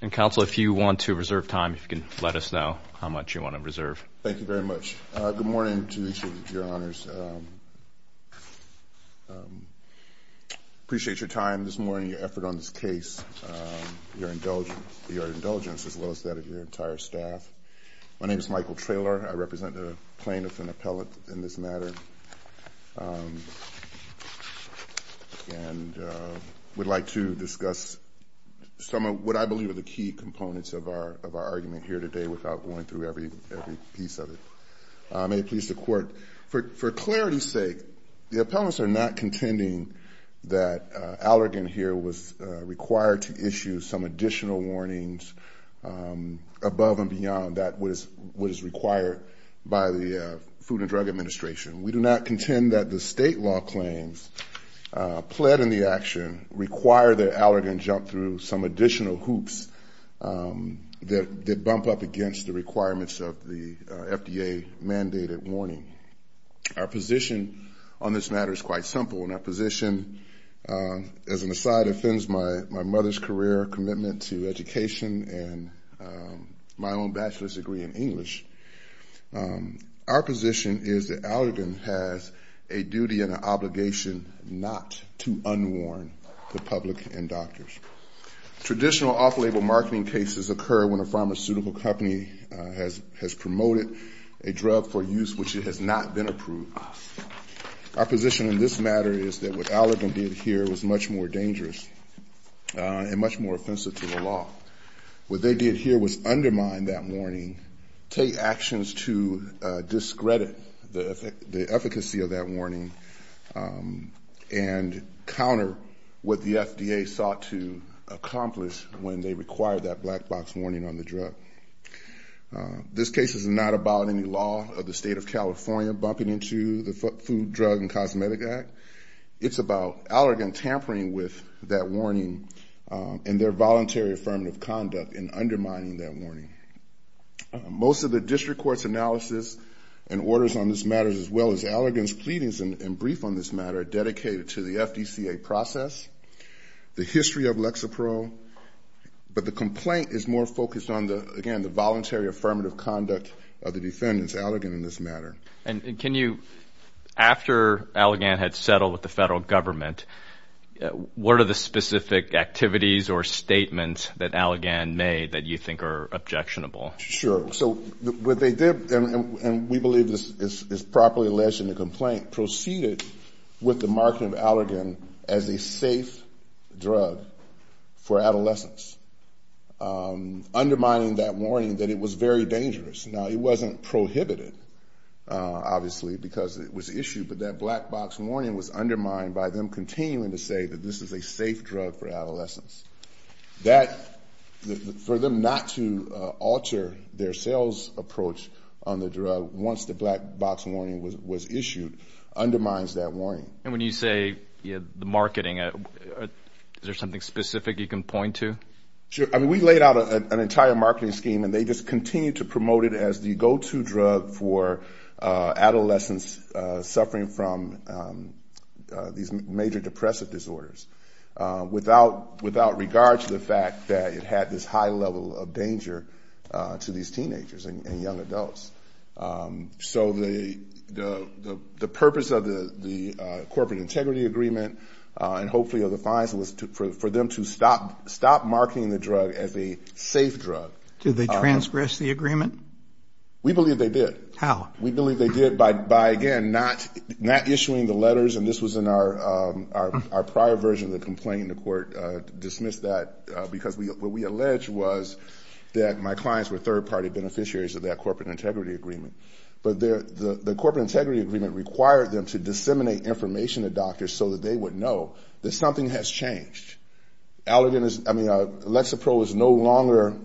And, Counsel, if you want to reserve time, if you can let us know how much you want to reserve. Thank you very much. Good morning to each of your Honors. Appreciate your time this morning, your effort on this case, your indulgence, as well as that of your entire staff. My name is Michael Traylor. I represent a plaintiff and appellate in this matter. And we'd like to discuss some of what I believe are the key components of our argument here today without going through every piece of it. May it please the Court, for clarity's sake, the appellants are not contending that Allergan here was required to issue some additional warnings above and beyond what is required by the Food and Drug Administration. We do not contend that the state law claims pled in the action require that Allergan jump through some additional hoops that bump up against the requirements of the FDA-mandated warning. Our position on this matter is quite simple. And our position, as an aside, offends my mother's career, commitment to education, and my own bachelor's degree in English. Our position is that Allergan has a duty and an obligation not to unwarn the public and doctors. Traditional off-label marketing cases occur when a pharmaceutical company has promoted a drug for use which it has not been approved of. Our position in this matter is that what Allergan did here was much more dangerous and much more offensive to the law. What they did here was undermine that warning, take actions to discredit the efficacy of that warning, and counter what the FDA sought to accomplish when they required that black box warning on the drug. This case is not about any law of the state of California bumping into the Food, Drug, and Cosmetic Act. It's about Allergan tampering with that warning and their voluntary affirmative conduct in undermining that warning. Most of the district court's analysis and orders on this matter, as well as Allergan's pleadings and brief on this matter, are dedicated to the FDCA process, the history of Lexapro. But the complaint is more focused on, again, the voluntary affirmative conduct of the defendants, Allergan in this matter. And can you, after Allergan had settled with the federal government, what are the specific activities or statements that Allergan made that you think are objectionable? Sure. So what they did, and we believe this is properly alleged in the complaint, proceeded with the marketing of Allergan as a safe drug for adolescents, undermining that warning that it was very dangerous. Now, it wasn't prohibited, obviously, because it was issued, but that black box warning was undermined by them continuing to say that this is a safe drug for adolescents. That, for them not to alter their sales approach on the drug once the black box warning was issued, undermines that warning. And when you say the marketing, is there something specific you can point to? Sure. I mean, we laid out an entire marketing scheme, and they just continued to promote it as the go-to drug for adolescents suffering from these major depressive disorders. Without regard to the fact that it had this high level of danger to these teenagers and young adults. So the purpose of the corporate integrity agreement, and hopefully of the fines, was for them to stop marketing the drug as a safe drug. Did they transgress the agreement? We believe they did. How? We believe they did by, again, not issuing the letters, and this was in our prior version of the complaint, and the court dismissed that because what we alleged was that my clients were third-party beneficiaries of that corporate integrity agreement. But the corporate integrity agreement required them to disseminate information to doctors so that they would know that something has changed. Allergan is, I mean, Lexapro is no longer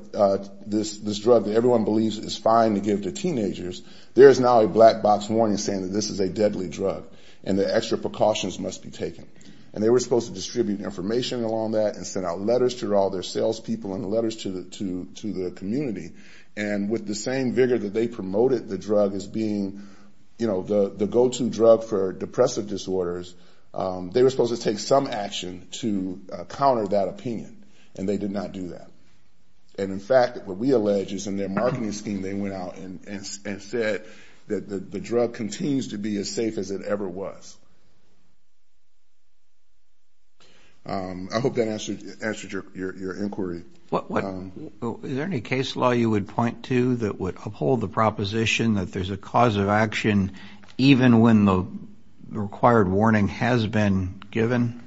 this drug that everyone believes is fine to give to teenagers. There is now a black box warning saying that this is a deadly drug and that extra precautions must be taken. And they were supposed to distribute information along that and send out letters to all their salespeople and letters to the community. And with the same vigor that they promoted the drug as being, you know, the go-to drug for depressive disorders, they were supposed to take some action to counter that opinion, and they did not do that. And, in fact, what we allege is in their marketing scheme they went out and said that the drug continues to be as safe as it ever was. I hope that answers your inquiry. Is there any case law you would point to that would uphold the proposition that there's a cause of action even when the required warning has been given?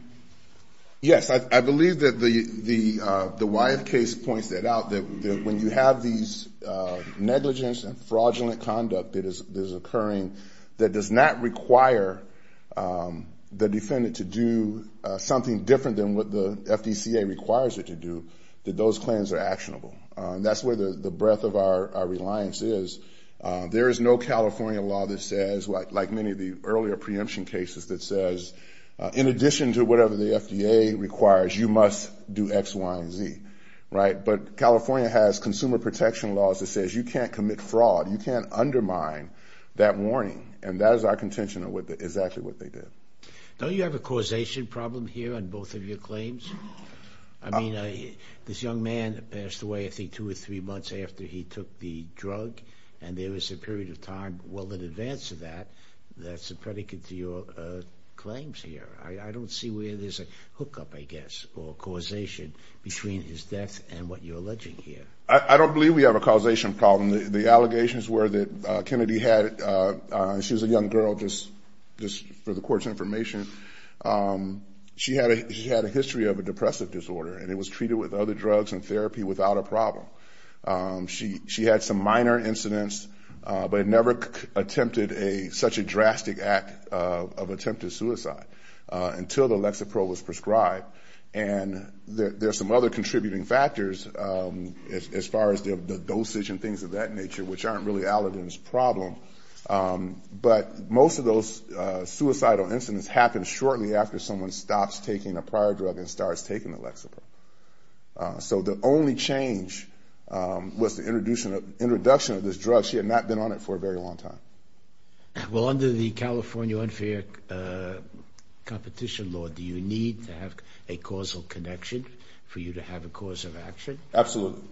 Yes, I believe that the Wyeth case points that out, that when you have these negligence and fraudulent conduct that is occurring that does not require the defendant to do something different than what the FDCA requires her to do, that those claims are actionable. And that's where the breadth of our reliance is. There is no California law that says, like many of the earlier preemption cases, that says in addition to whatever the FDA requires, you must do X, Y, and Z, right? But California has consumer protection laws that says you can't commit fraud. You can't undermine that warning, and that is our contention on exactly what they did. Don't you have a causation problem here on both of your claims? I mean, this young man passed away, I think, two or three months after he took the drug, and there was a period of time well in advance of that that's a predicate to your claims here. I don't see where there's a hookup, I guess, or causation between his death and what you're alleging here. I don't believe we have a causation problem. The allegations were that Kennedy had, and she was a young girl just for the court's information, she had a history of a depressive disorder, and it was treated with other drugs and therapy without a problem. She had some minor incidents, but never attempted such a drastic act of attempted suicide until the Lexapro was prescribed. And there's some other contributing factors as far as the dosage and things of that nature, which aren't really Aladin's problem, but most of those suicidal incidents happen shortly after someone stops taking a prior drug and starts taking the Lexapro. So the only change was the introduction of this drug. She had not been on it for a very long time. Well, under the California unfair competition law, do you need to have a causal connection for you to have a cause of action? Absolutely.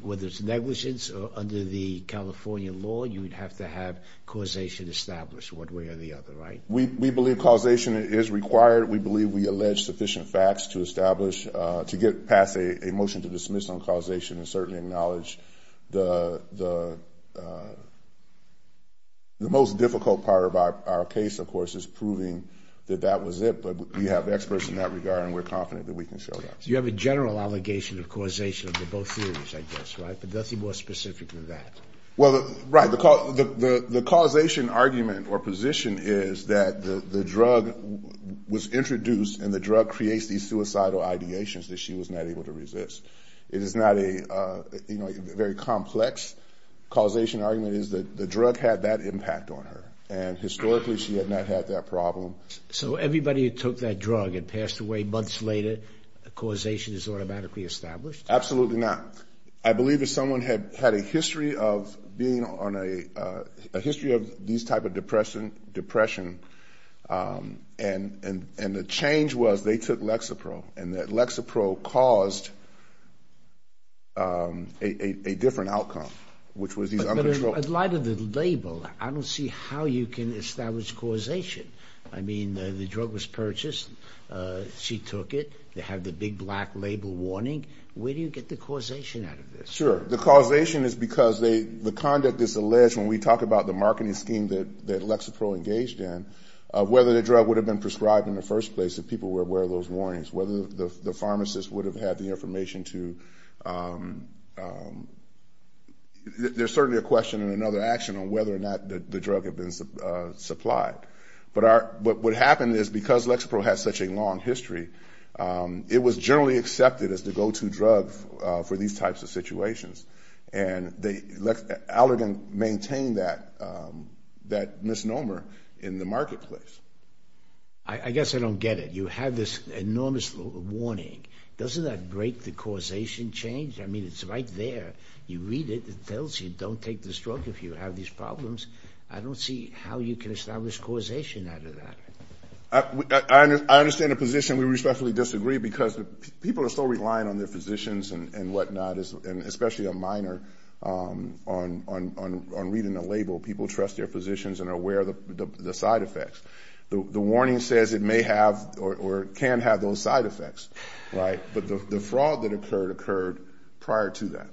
Whether it's negligence or under the California law, you would have to have causation established one way or the other, right? We believe causation is required. We believe we allege sufficient facts to establish, to get past a motion to dismiss on causation, and certainly acknowledge the most difficult part of our case, of course, is proving that that was it. But we have experts in that regard, and we're confident that we can show that. So you have a general allegation of causation under both theories, I guess, right? But nothing more specific than that. Well, right. The causation argument or position is that the drug was introduced, and the drug creates these suicidal ideations that she was not able to resist. It is not a very complex causation argument. It is that the drug had that impact on her, and historically she had not had that problem. So everybody who took that drug and passed away months later, causation is automatically established? Absolutely not. I believe that someone had a history of being on a, a history of these type of depression, and the change was they took Lexapro, and that Lexapro caused a different outcome, which was these uncontrolled. But in light of the label, I don't see how you can establish causation. I mean, the drug was purchased. She took it. They have the big black label warning. Where do you get the causation out of this? Sure. The causation is because the conduct is alleged when we talk about the marketing scheme that Lexapro engaged in, whether the drug would have been prescribed in the first place if people were aware of those warnings, whether the pharmacist would have had the information to, there's certainly a question and another action on whether or not the drug had been supplied. But what happened is because Lexapro has such a long history, it was generally accepted as the go-to drug for these types of situations. And they, Allergan maintained that misnomer in the marketplace. I guess I don't get it. You have this enormous warning. Doesn't that break the causation change? I mean, it's right there. You read it. It tells you don't take this drug if you have these problems. I don't see how you can establish causation out of that. I understand the position. We respectfully disagree because people are still relying on their physicians and whatnot, and especially a minor on reading the label. People trust their physicians and are aware of the side effects. The warning says it may have or can have those side effects, right? But the fraud that occurred occurred prior to that.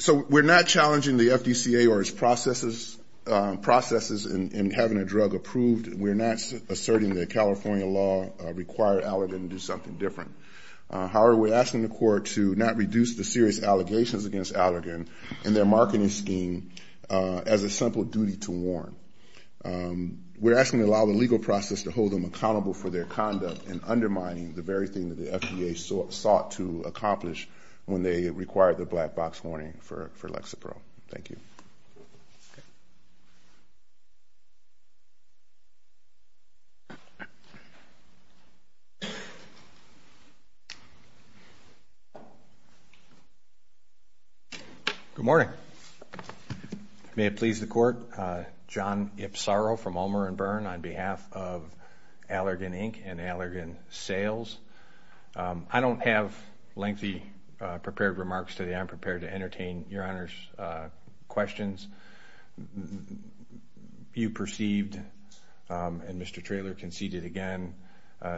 So we're not challenging the FDCA or its processes in having a drug approved. We're not asserting that California law required Allergan to do something different. However, we're asking the court to not reduce the serious allegations against Allergan and their marketing scheme as a simple duty to warn. We're asking to allow the legal process to hold them accountable for their conduct and undermining the very thing that the FDA sought to accomplish when they required the black box warning for Lexapro. Thank you. Good morning. May it please the court. John Ipsarro from Ulmer & Byrne on behalf of Allergan, Inc. and Allergan Sales. I don't have lengthy prepared remarks today. I'm prepared to entertain Your Honor's questions. You perceived and Mr. Traylor conceded again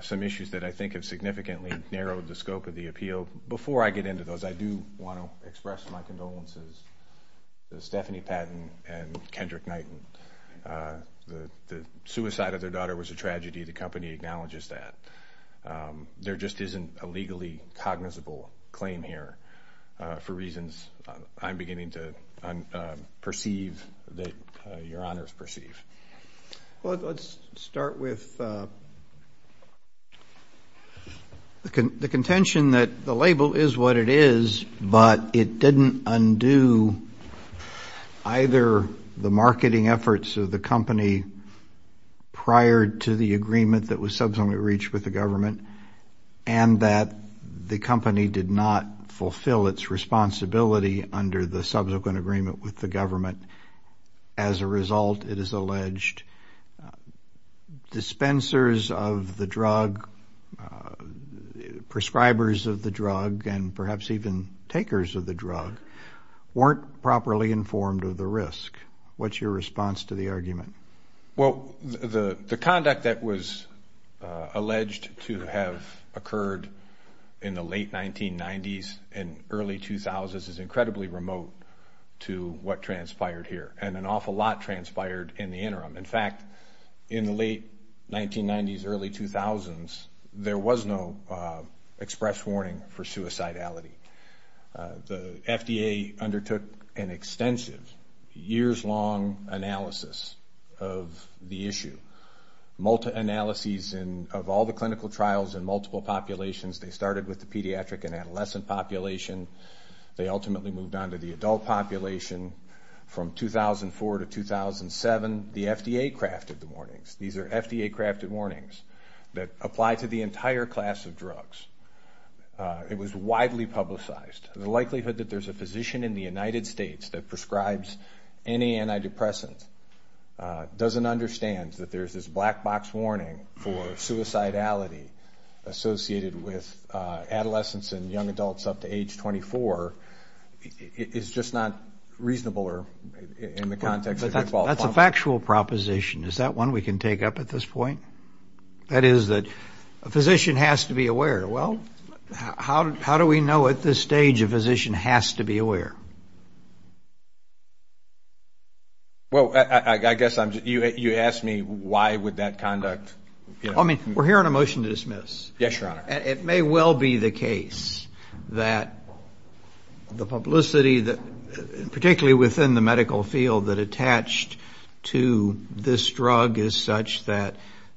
some issues that I think have significantly narrowed the scope of the appeal. Before I get into those, I do want to express my condolences to Stephanie Patton and Kendrick Knighton. The suicide of their daughter was a tragedy. The company acknowledges that. There just isn't a legally cognizable claim here for reasons I'm beginning to perceive that Your Honor's perceive. Well, let's start with the contention that the label is what it is, but it didn't undo either the marketing efforts of the company prior to the agreement that was subsequently reached with the government and that the company did not fulfill its responsibility under the subsequent agreement with the government. As a result, it is alleged dispensers of the drug, prescribers of the drug, and perhaps even takers of the drug weren't properly informed of the risk. What's your response to the argument? Well, the conduct that was alleged to have occurred in the late 1990s and early 2000s is incredibly remote to what transpired here, and an awful lot transpired in the interim. In fact, in the late 1990s, early 2000s, there was no express warning for suicidality. The FDA undertook an extensive, years-long analysis of the issue, multi-analyses of all the clinical trials in multiple populations. They started with the pediatric and adolescent population. They ultimately moved on to the adult population. From 2004 to 2007, the FDA crafted the warnings. These are FDA-crafted warnings that apply to the entire class of drugs. It was widely publicized. The likelihood that there's a physician in the United States that prescribes any antidepressant doesn't understand that there's this black box warning for suicidality associated with adolescents and young adults up to age 24. It's just not reasonable in the context that we've all come to. That's a factual proposition. Is that one we can take up at this point? That is that a physician has to be aware. Well, how do we know at this stage a physician has to be aware? Well, I guess you asked me why would that conduct? I mean, we're hearing a motion to dismiss. Yes, Your Honor. It may well be the case that the publicity, particularly within the medical field, that attached to this drug is such that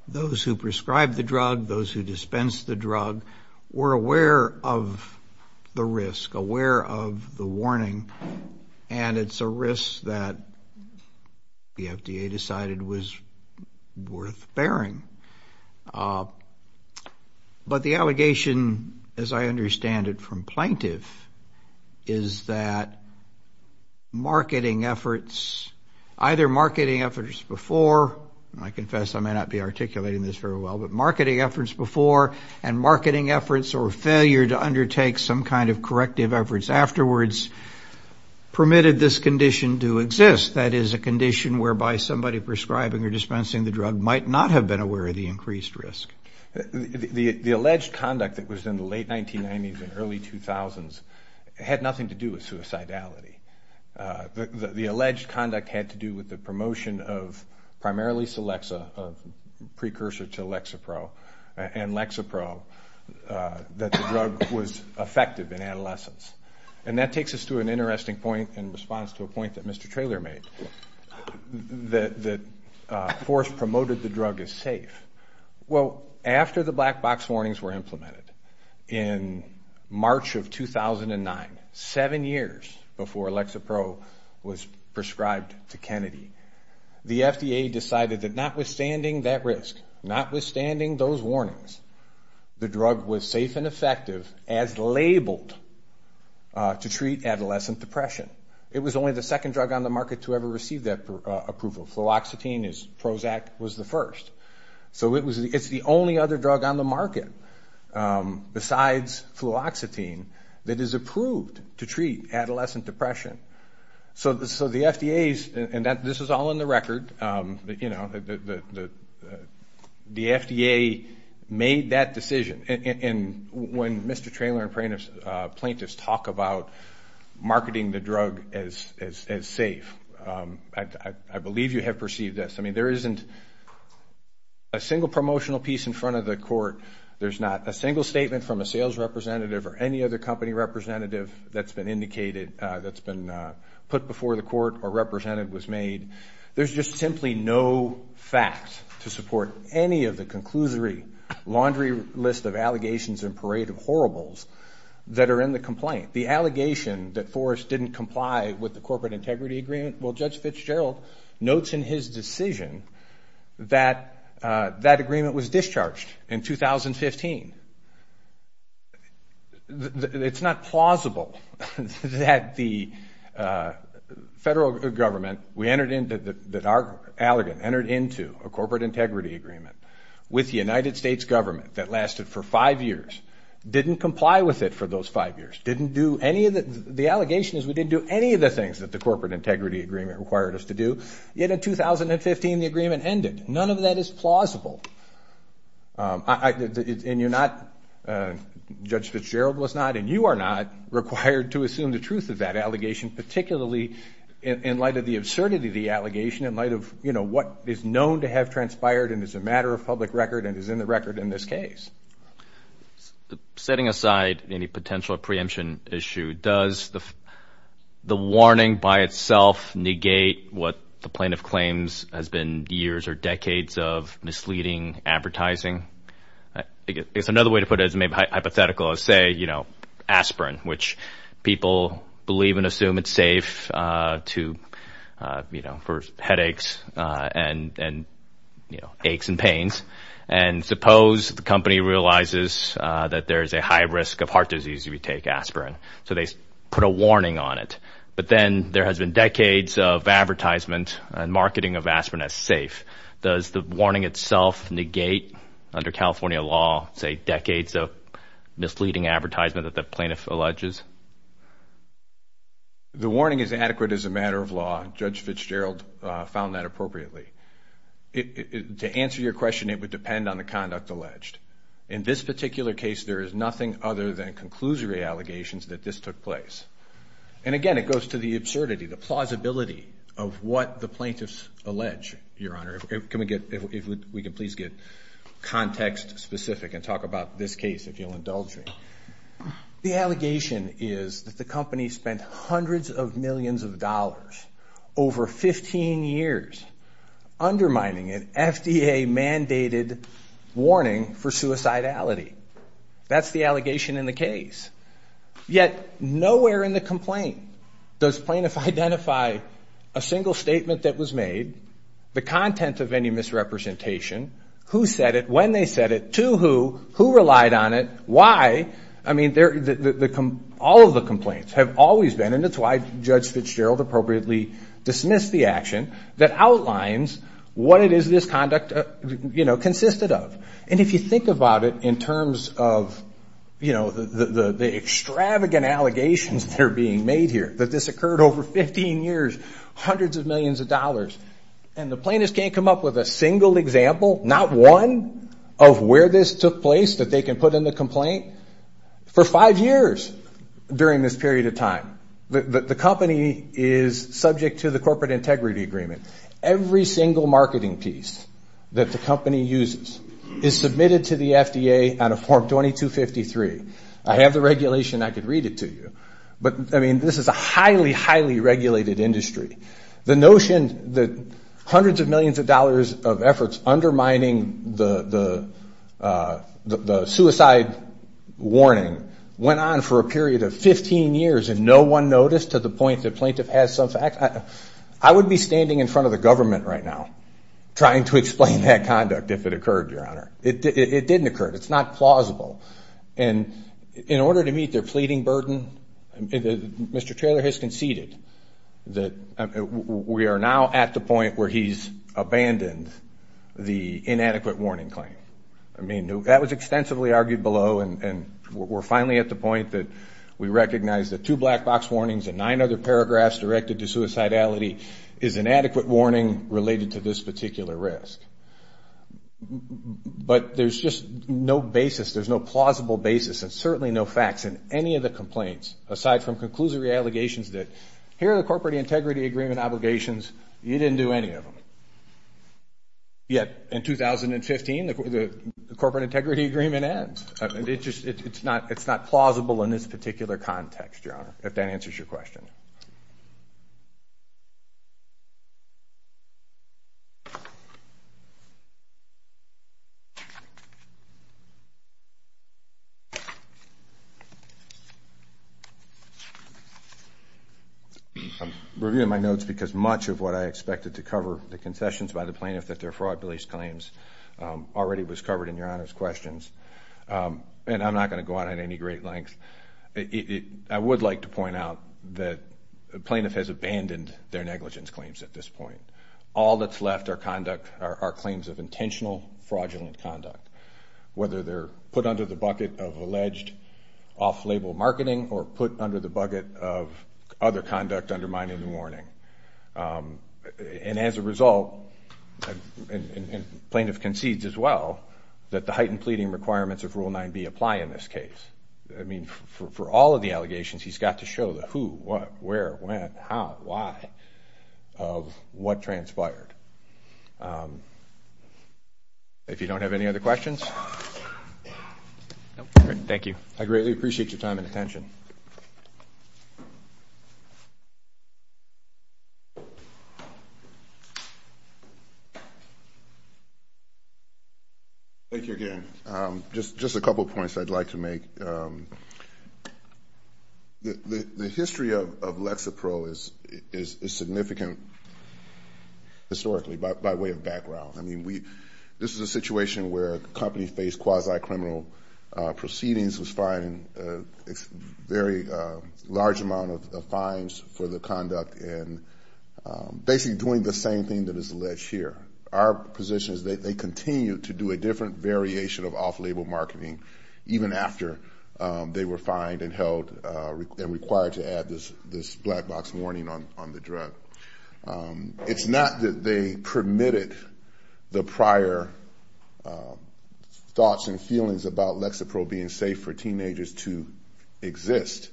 those who prescribe the drug, those who dispense the drug, were aware of the risk, aware of the warning, and it's a risk that the FDA decided was worth bearing. But the allegation, as I understand it from plaintiff, is that marketing efforts, either marketing efforts before, and I confess I may not be articulating this very well, but marketing efforts before and marketing efforts or failure to undertake some kind of corrective efforts afterwards permitted this condition to exist, that is a condition whereby somebody prescribing or dispensing the drug might not have been aware of the increased risk. The alleged conduct that was in the late 1990s and early 2000s had nothing to do with suicidality. The alleged conduct had to do with the promotion of primarily Celexa, precursor to Lexapro, and Lexapro, that the drug was effective in adolescents. And that takes us to an interesting point in response to a point that Mr. Traylor made, that force promoted the drug as safe. Well, after the black box warnings were implemented in March of 2009, seven years before Lexapro was prescribed to Kennedy, the FDA decided that notwithstanding that risk, notwithstanding those warnings, the drug was safe and effective as labeled to treat adolescent depression. It was only the second drug on the market to ever receive that approval. Fluoxetine, Prozac, was the first. So it's the only other drug on the market besides fluoxetine that is approved to treat adolescent depression. So the FDA's, and this is all in the record, you know, the FDA made that decision. And when Mr. Traylor and plaintiffs talk about marketing the drug as safe, I believe you have perceived this. I mean, there isn't a single promotional piece in front of the court. There's not a single statement from a sales representative or any other company representative that's been indicated, that's been put before the court or represented, was made. There's just simply no fact to support any of the conclusory laundry list of allegations and parade of horribles that are in the complaint. The allegation that Forrest didn't comply with the corporate integrity agreement, well, Judge Fitzgerald notes in his decision that that agreement was discharged in 2015. It's not plausible that the federal government, that our allegant, entered into a corporate integrity agreement with the United States government that lasted for five years, didn't comply with it for those five years, the allegation is we didn't do any of the things that the corporate integrity agreement required us to do, yet in 2015 the agreement ended. None of that is plausible. And you're not, Judge Fitzgerald was not, and you are not required to assume the truth of that allegation, particularly in light of the absurdity of the allegation, in light of, you know, what is known to have transpired and is a matter of public record and is in the record in this case. Setting aside any potential preemption issue, does the warning by itself negate what the plaintiff claims has been years or decades of misleading advertising? I guess another way to put it is maybe hypothetical is, say, you know, aspirin, which people believe and assume it's safe to, you know, for headaches and, you know, aches and pains. And suppose the company realizes that there is a high risk of heart disease if you take aspirin. So they put a warning on it. But then there has been decades of advertisement and marketing of aspirin as safe. Does the warning itself negate, under California law, say decades of misleading advertisement that the plaintiff alleges? The warning is adequate as a matter of law. Judge Fitzgerald found that appropriately. To answer your question, it would depend on the conduct alleged. In this particular case, there is nothing other than conclusory allegations that this took place. And, again, it goes to the absurdity, the plausibility of what the plaintiffs allege, Your Honor. If we could please get context specific and talk about this case, if you'll indulge me. The allegation is that the company spent hundreds of millions of dollars over 15 years undermining an FDA mandated warning for suicidality. That's the allegation in the case. Yet nowhere in the complaint does plaintiff identify a single statement that was made, the content of any misrepresentation, who said it, when they said it, to who, who relied on it, why. I mean, all of the complaints have always been, that's why Judge Fitzgerald appropriately dismissed the action, that outlines what it is this conduct consisted of. And if you think about it in terms of the extravagant allegations that are being made here, that this occurred over 15 years, hundreds of millions of dollars, and the plaintiffs can't come up with a single example, not one, of where this took place that they can put in the complaint? For five years during this period of time. The company is subject to the corporate integrity agreement. Every single marketing piece that the company uses is submitted to the FDA on a form 2253. I have the regulation, I could read it to you. But, I mean, this is a highly, highly regulated industry. The notion that hundreds of millions of dollars of efforts undermining the suicide warning went on for a period of 15 years and no one noticed to the point that plaintiff has some facts, I would be standing in front of the government right now trying to explain that conduct if it occurred, Your Honor. It didn't occur. It's not plausible. And in order to meet their pleading burden, Mr. Taylor has conceded that we are now at the point where he's abandoned the inadequate warning claim. I mean, that was extensively argued below, and we're finally at the point that we recognize that two black box warnings and nine other paragraphs directed to suicidality is inadequate warning related to this particular risk. But there's just no basis, there's no plausible basis and certainly no facts in any of the complaints, aside from conclusory allegations that here are the corporate integrity agreement obligations, you didn't do any of them. Yet, in 2015, the corporate integrity agreement ends. It's not plausible in this particular context, Your Honor, if that answers your question. Thank you. I'm reviewing my notes because much of what I expected to cover, the concessions by the plaintiff that they're fraud police claims, already was covered in Your Honor's questions. And I'm not going to go on at any great length. I would like to point out that the plaintiff has abandoned their negligence claims at this point. All that's left are claims of intentional fraudulent conduct, whether they're put under the bucket of alleged off-label marketing or put under the bucket of other conduct undermining the warning. And as a result, and the plaintiff concedes as well, that the heightened pleading requirements of Rule 9b apply in this case. I mean, for all of the allegations, he's got to show the who, what, where, when, how, why of what transpired. If you don't have any other questions. Thank you. I greatly appreciate your time and attention. Thank you again. Just a couple of points I'd like to make. The history of Lexapro is significant historically by way of background. I mean, this is a situation where a company faced quasi-criminal proceedings, was fined a very large amount of fines for the conduct and basically doing the same thing that is alleged here. Our position is that they continue to do a different variation of off-label marketing, even after they were fined and held and required to add this black box warning on the drug. It's not that they permitted the prior thoughts and feelings about Lexapro being safe for teenagers to exist,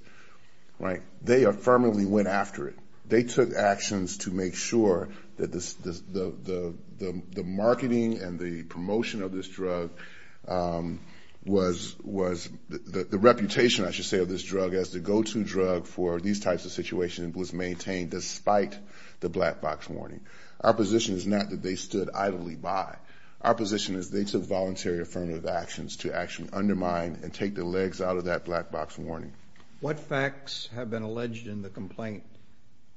right? They affirmatively went after it. They took actions to make sure that the marketing and the promotion of this drug was effective. The reputation, I should say, of this drug as the go-to drug for these types of situations was maintained, despite the black box warning. Our position is not that they stood idly by. Our position is they took voluntary affirmative actions to actually undermine and take the legs out of that black box warning. What facts have been alleged in the complaint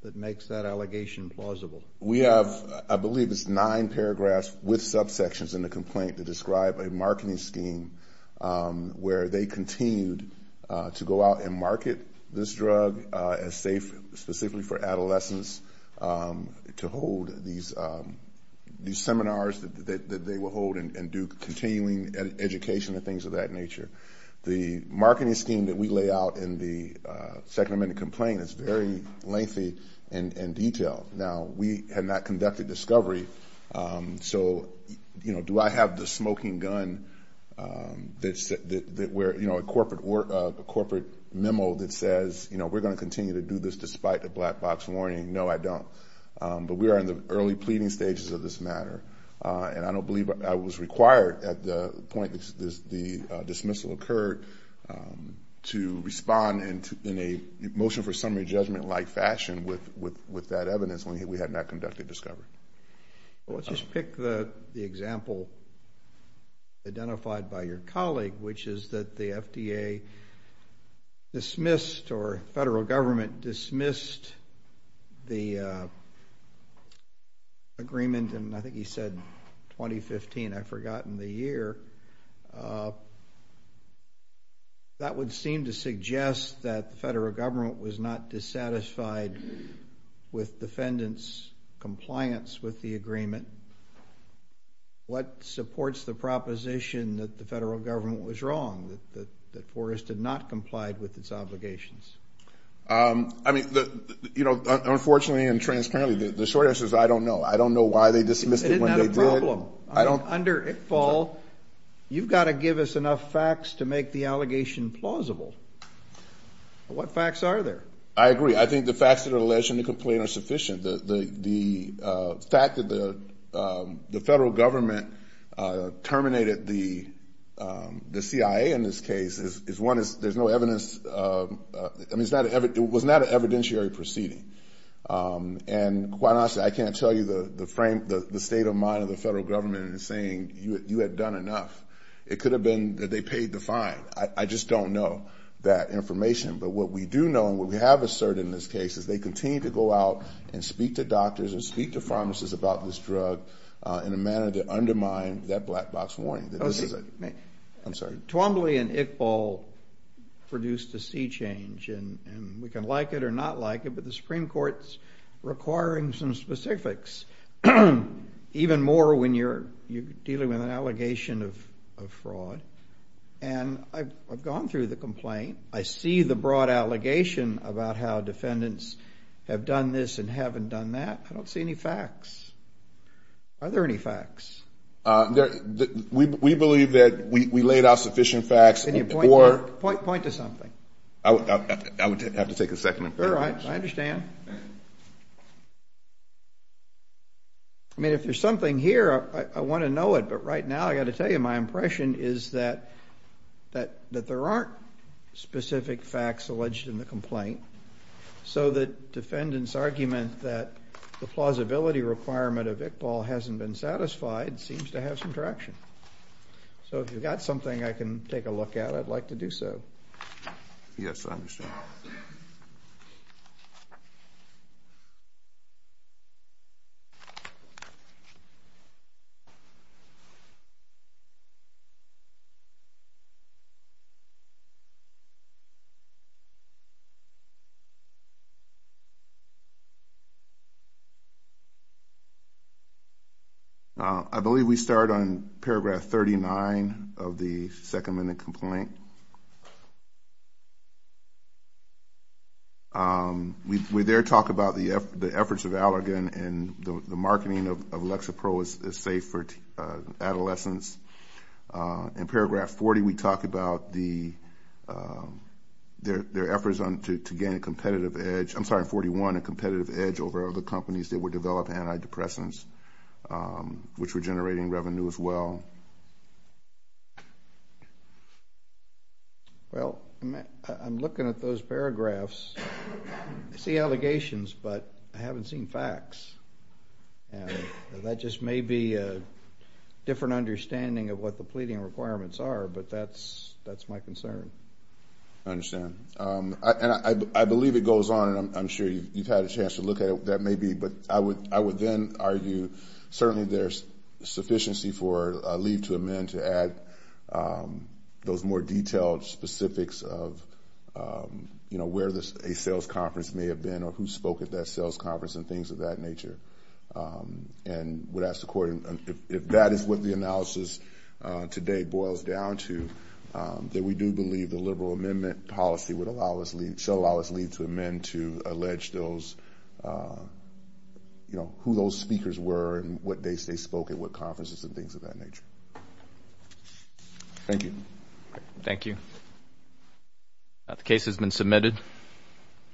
that makes that allegation plausible? We have, I believe it's nine paragraphs with subsections in the complaint that describe a marketing scheme where they continued to go out and market this drug as safe specifically for adolescents to hold these seminars that they will hold and do continuing education and things of that nature. The marketing scheme that we lay out in the Second Amendment complaint is very lengthy and detailed. Now, we have not conducted discovery. So, you know, do I have the smoking gun that we're, you know, a corporate memo that says, you know, we're going to continue to do this despite the black box warning? No, I don't. But we are in the early pleading stages of this matter. And I don't believe I was required at the point the dismissal occurred to respond in a motion for summary judgment-like fashion with that evidence when we had not conducted discovery. Well, let's just pick the example identified by your colleague, which is that the FDA dismissed or federal government dismissed the agreement, and I think he said 2015, I've forgotten the year. That would seem to suggest that the federal government was not dissatisfied with defendants' compliance with the agreement. What supports the proposition that the federal government was wrong, that Forrest did not comply with its obligations? I mean, you know, unfortunately and transparently, the short answer is I don't know. I don't know why they dismissed it when they did. It isn't a problem. Under ICFAL, you've got to give us enough facts to make the allegation plausible. What facts are there? I agree. I think the facts that are alleged in the complaint are sufficient. The fact that the federal government terminated the CIA in this case is, one, there's no evidence. I mean, it was not an evidentiary proceeding. And quite honestly, I can't tell you the state of mind of the federal government in saying you had done enough. It could have been that they paid the fine. I just don't know that information. But what we do know and what we have asserted in this case is they continue to go out and speak to doctors and speak to pharmacists about this drug in a manner to undermine that black box warning. Twombly and ICFAL produced a sea change, and we can like it or not like it, but the Supreme Court's requiring some specifics, even more when you're dealing with an allegation of fraud. And I've gone through the complaint. I see the broad allegation about how defendants have done this and haven't done that. I don't see any facts. Are there any facts? We believe that we laid out sufficient facts. Can you point to something? I would have to take a second. All right, I understand. I mean, if there's something here, I want to know it. But right now, I've got to tell you my impression is that there aren't specific facts alleged in the complaint. So the defendant's argument that the plausibility requirement of ICFAL hasn't been satisfied seems to have some traction. So if you've got something I can take a look at, I'd like to do so. Yes, I understand. Thank you. I believe we start on paragraph 39 of the second minute complaint. We there talk about the efforts of Allergan and the marketing of Lexapro is safe for adolescents. In paragraph 40, we talk about their efforts to gain a competitive edge. I'm sorry, in 41, a competitive edge over other companies that were developing antidepressants, which were generating revenue as well. Well, I'm looking at those paragraphs. I see allegations, but I haven't seen facts. And that just may be a different understanding of what the pleading requirements are, but that's my concern. I understand. And I believe it goes on, and I'm sure you've had a chance to look at it. That may be, but I would then argue certainly there's sufficiency for leave to amend to add those more detailed specifics of, you know, where a sales conference may have been or who spoke at that sales conference and things of that nature. And would ask the court, if that is what the analysis today boils down to, that we do believe the liberal amendment policy would allow us leave, so allow us leave to amend to allege those, you know, who those speakers were and what they spoke at what conferences and things of that nature. Thank you. Thank you. The case has been submitted.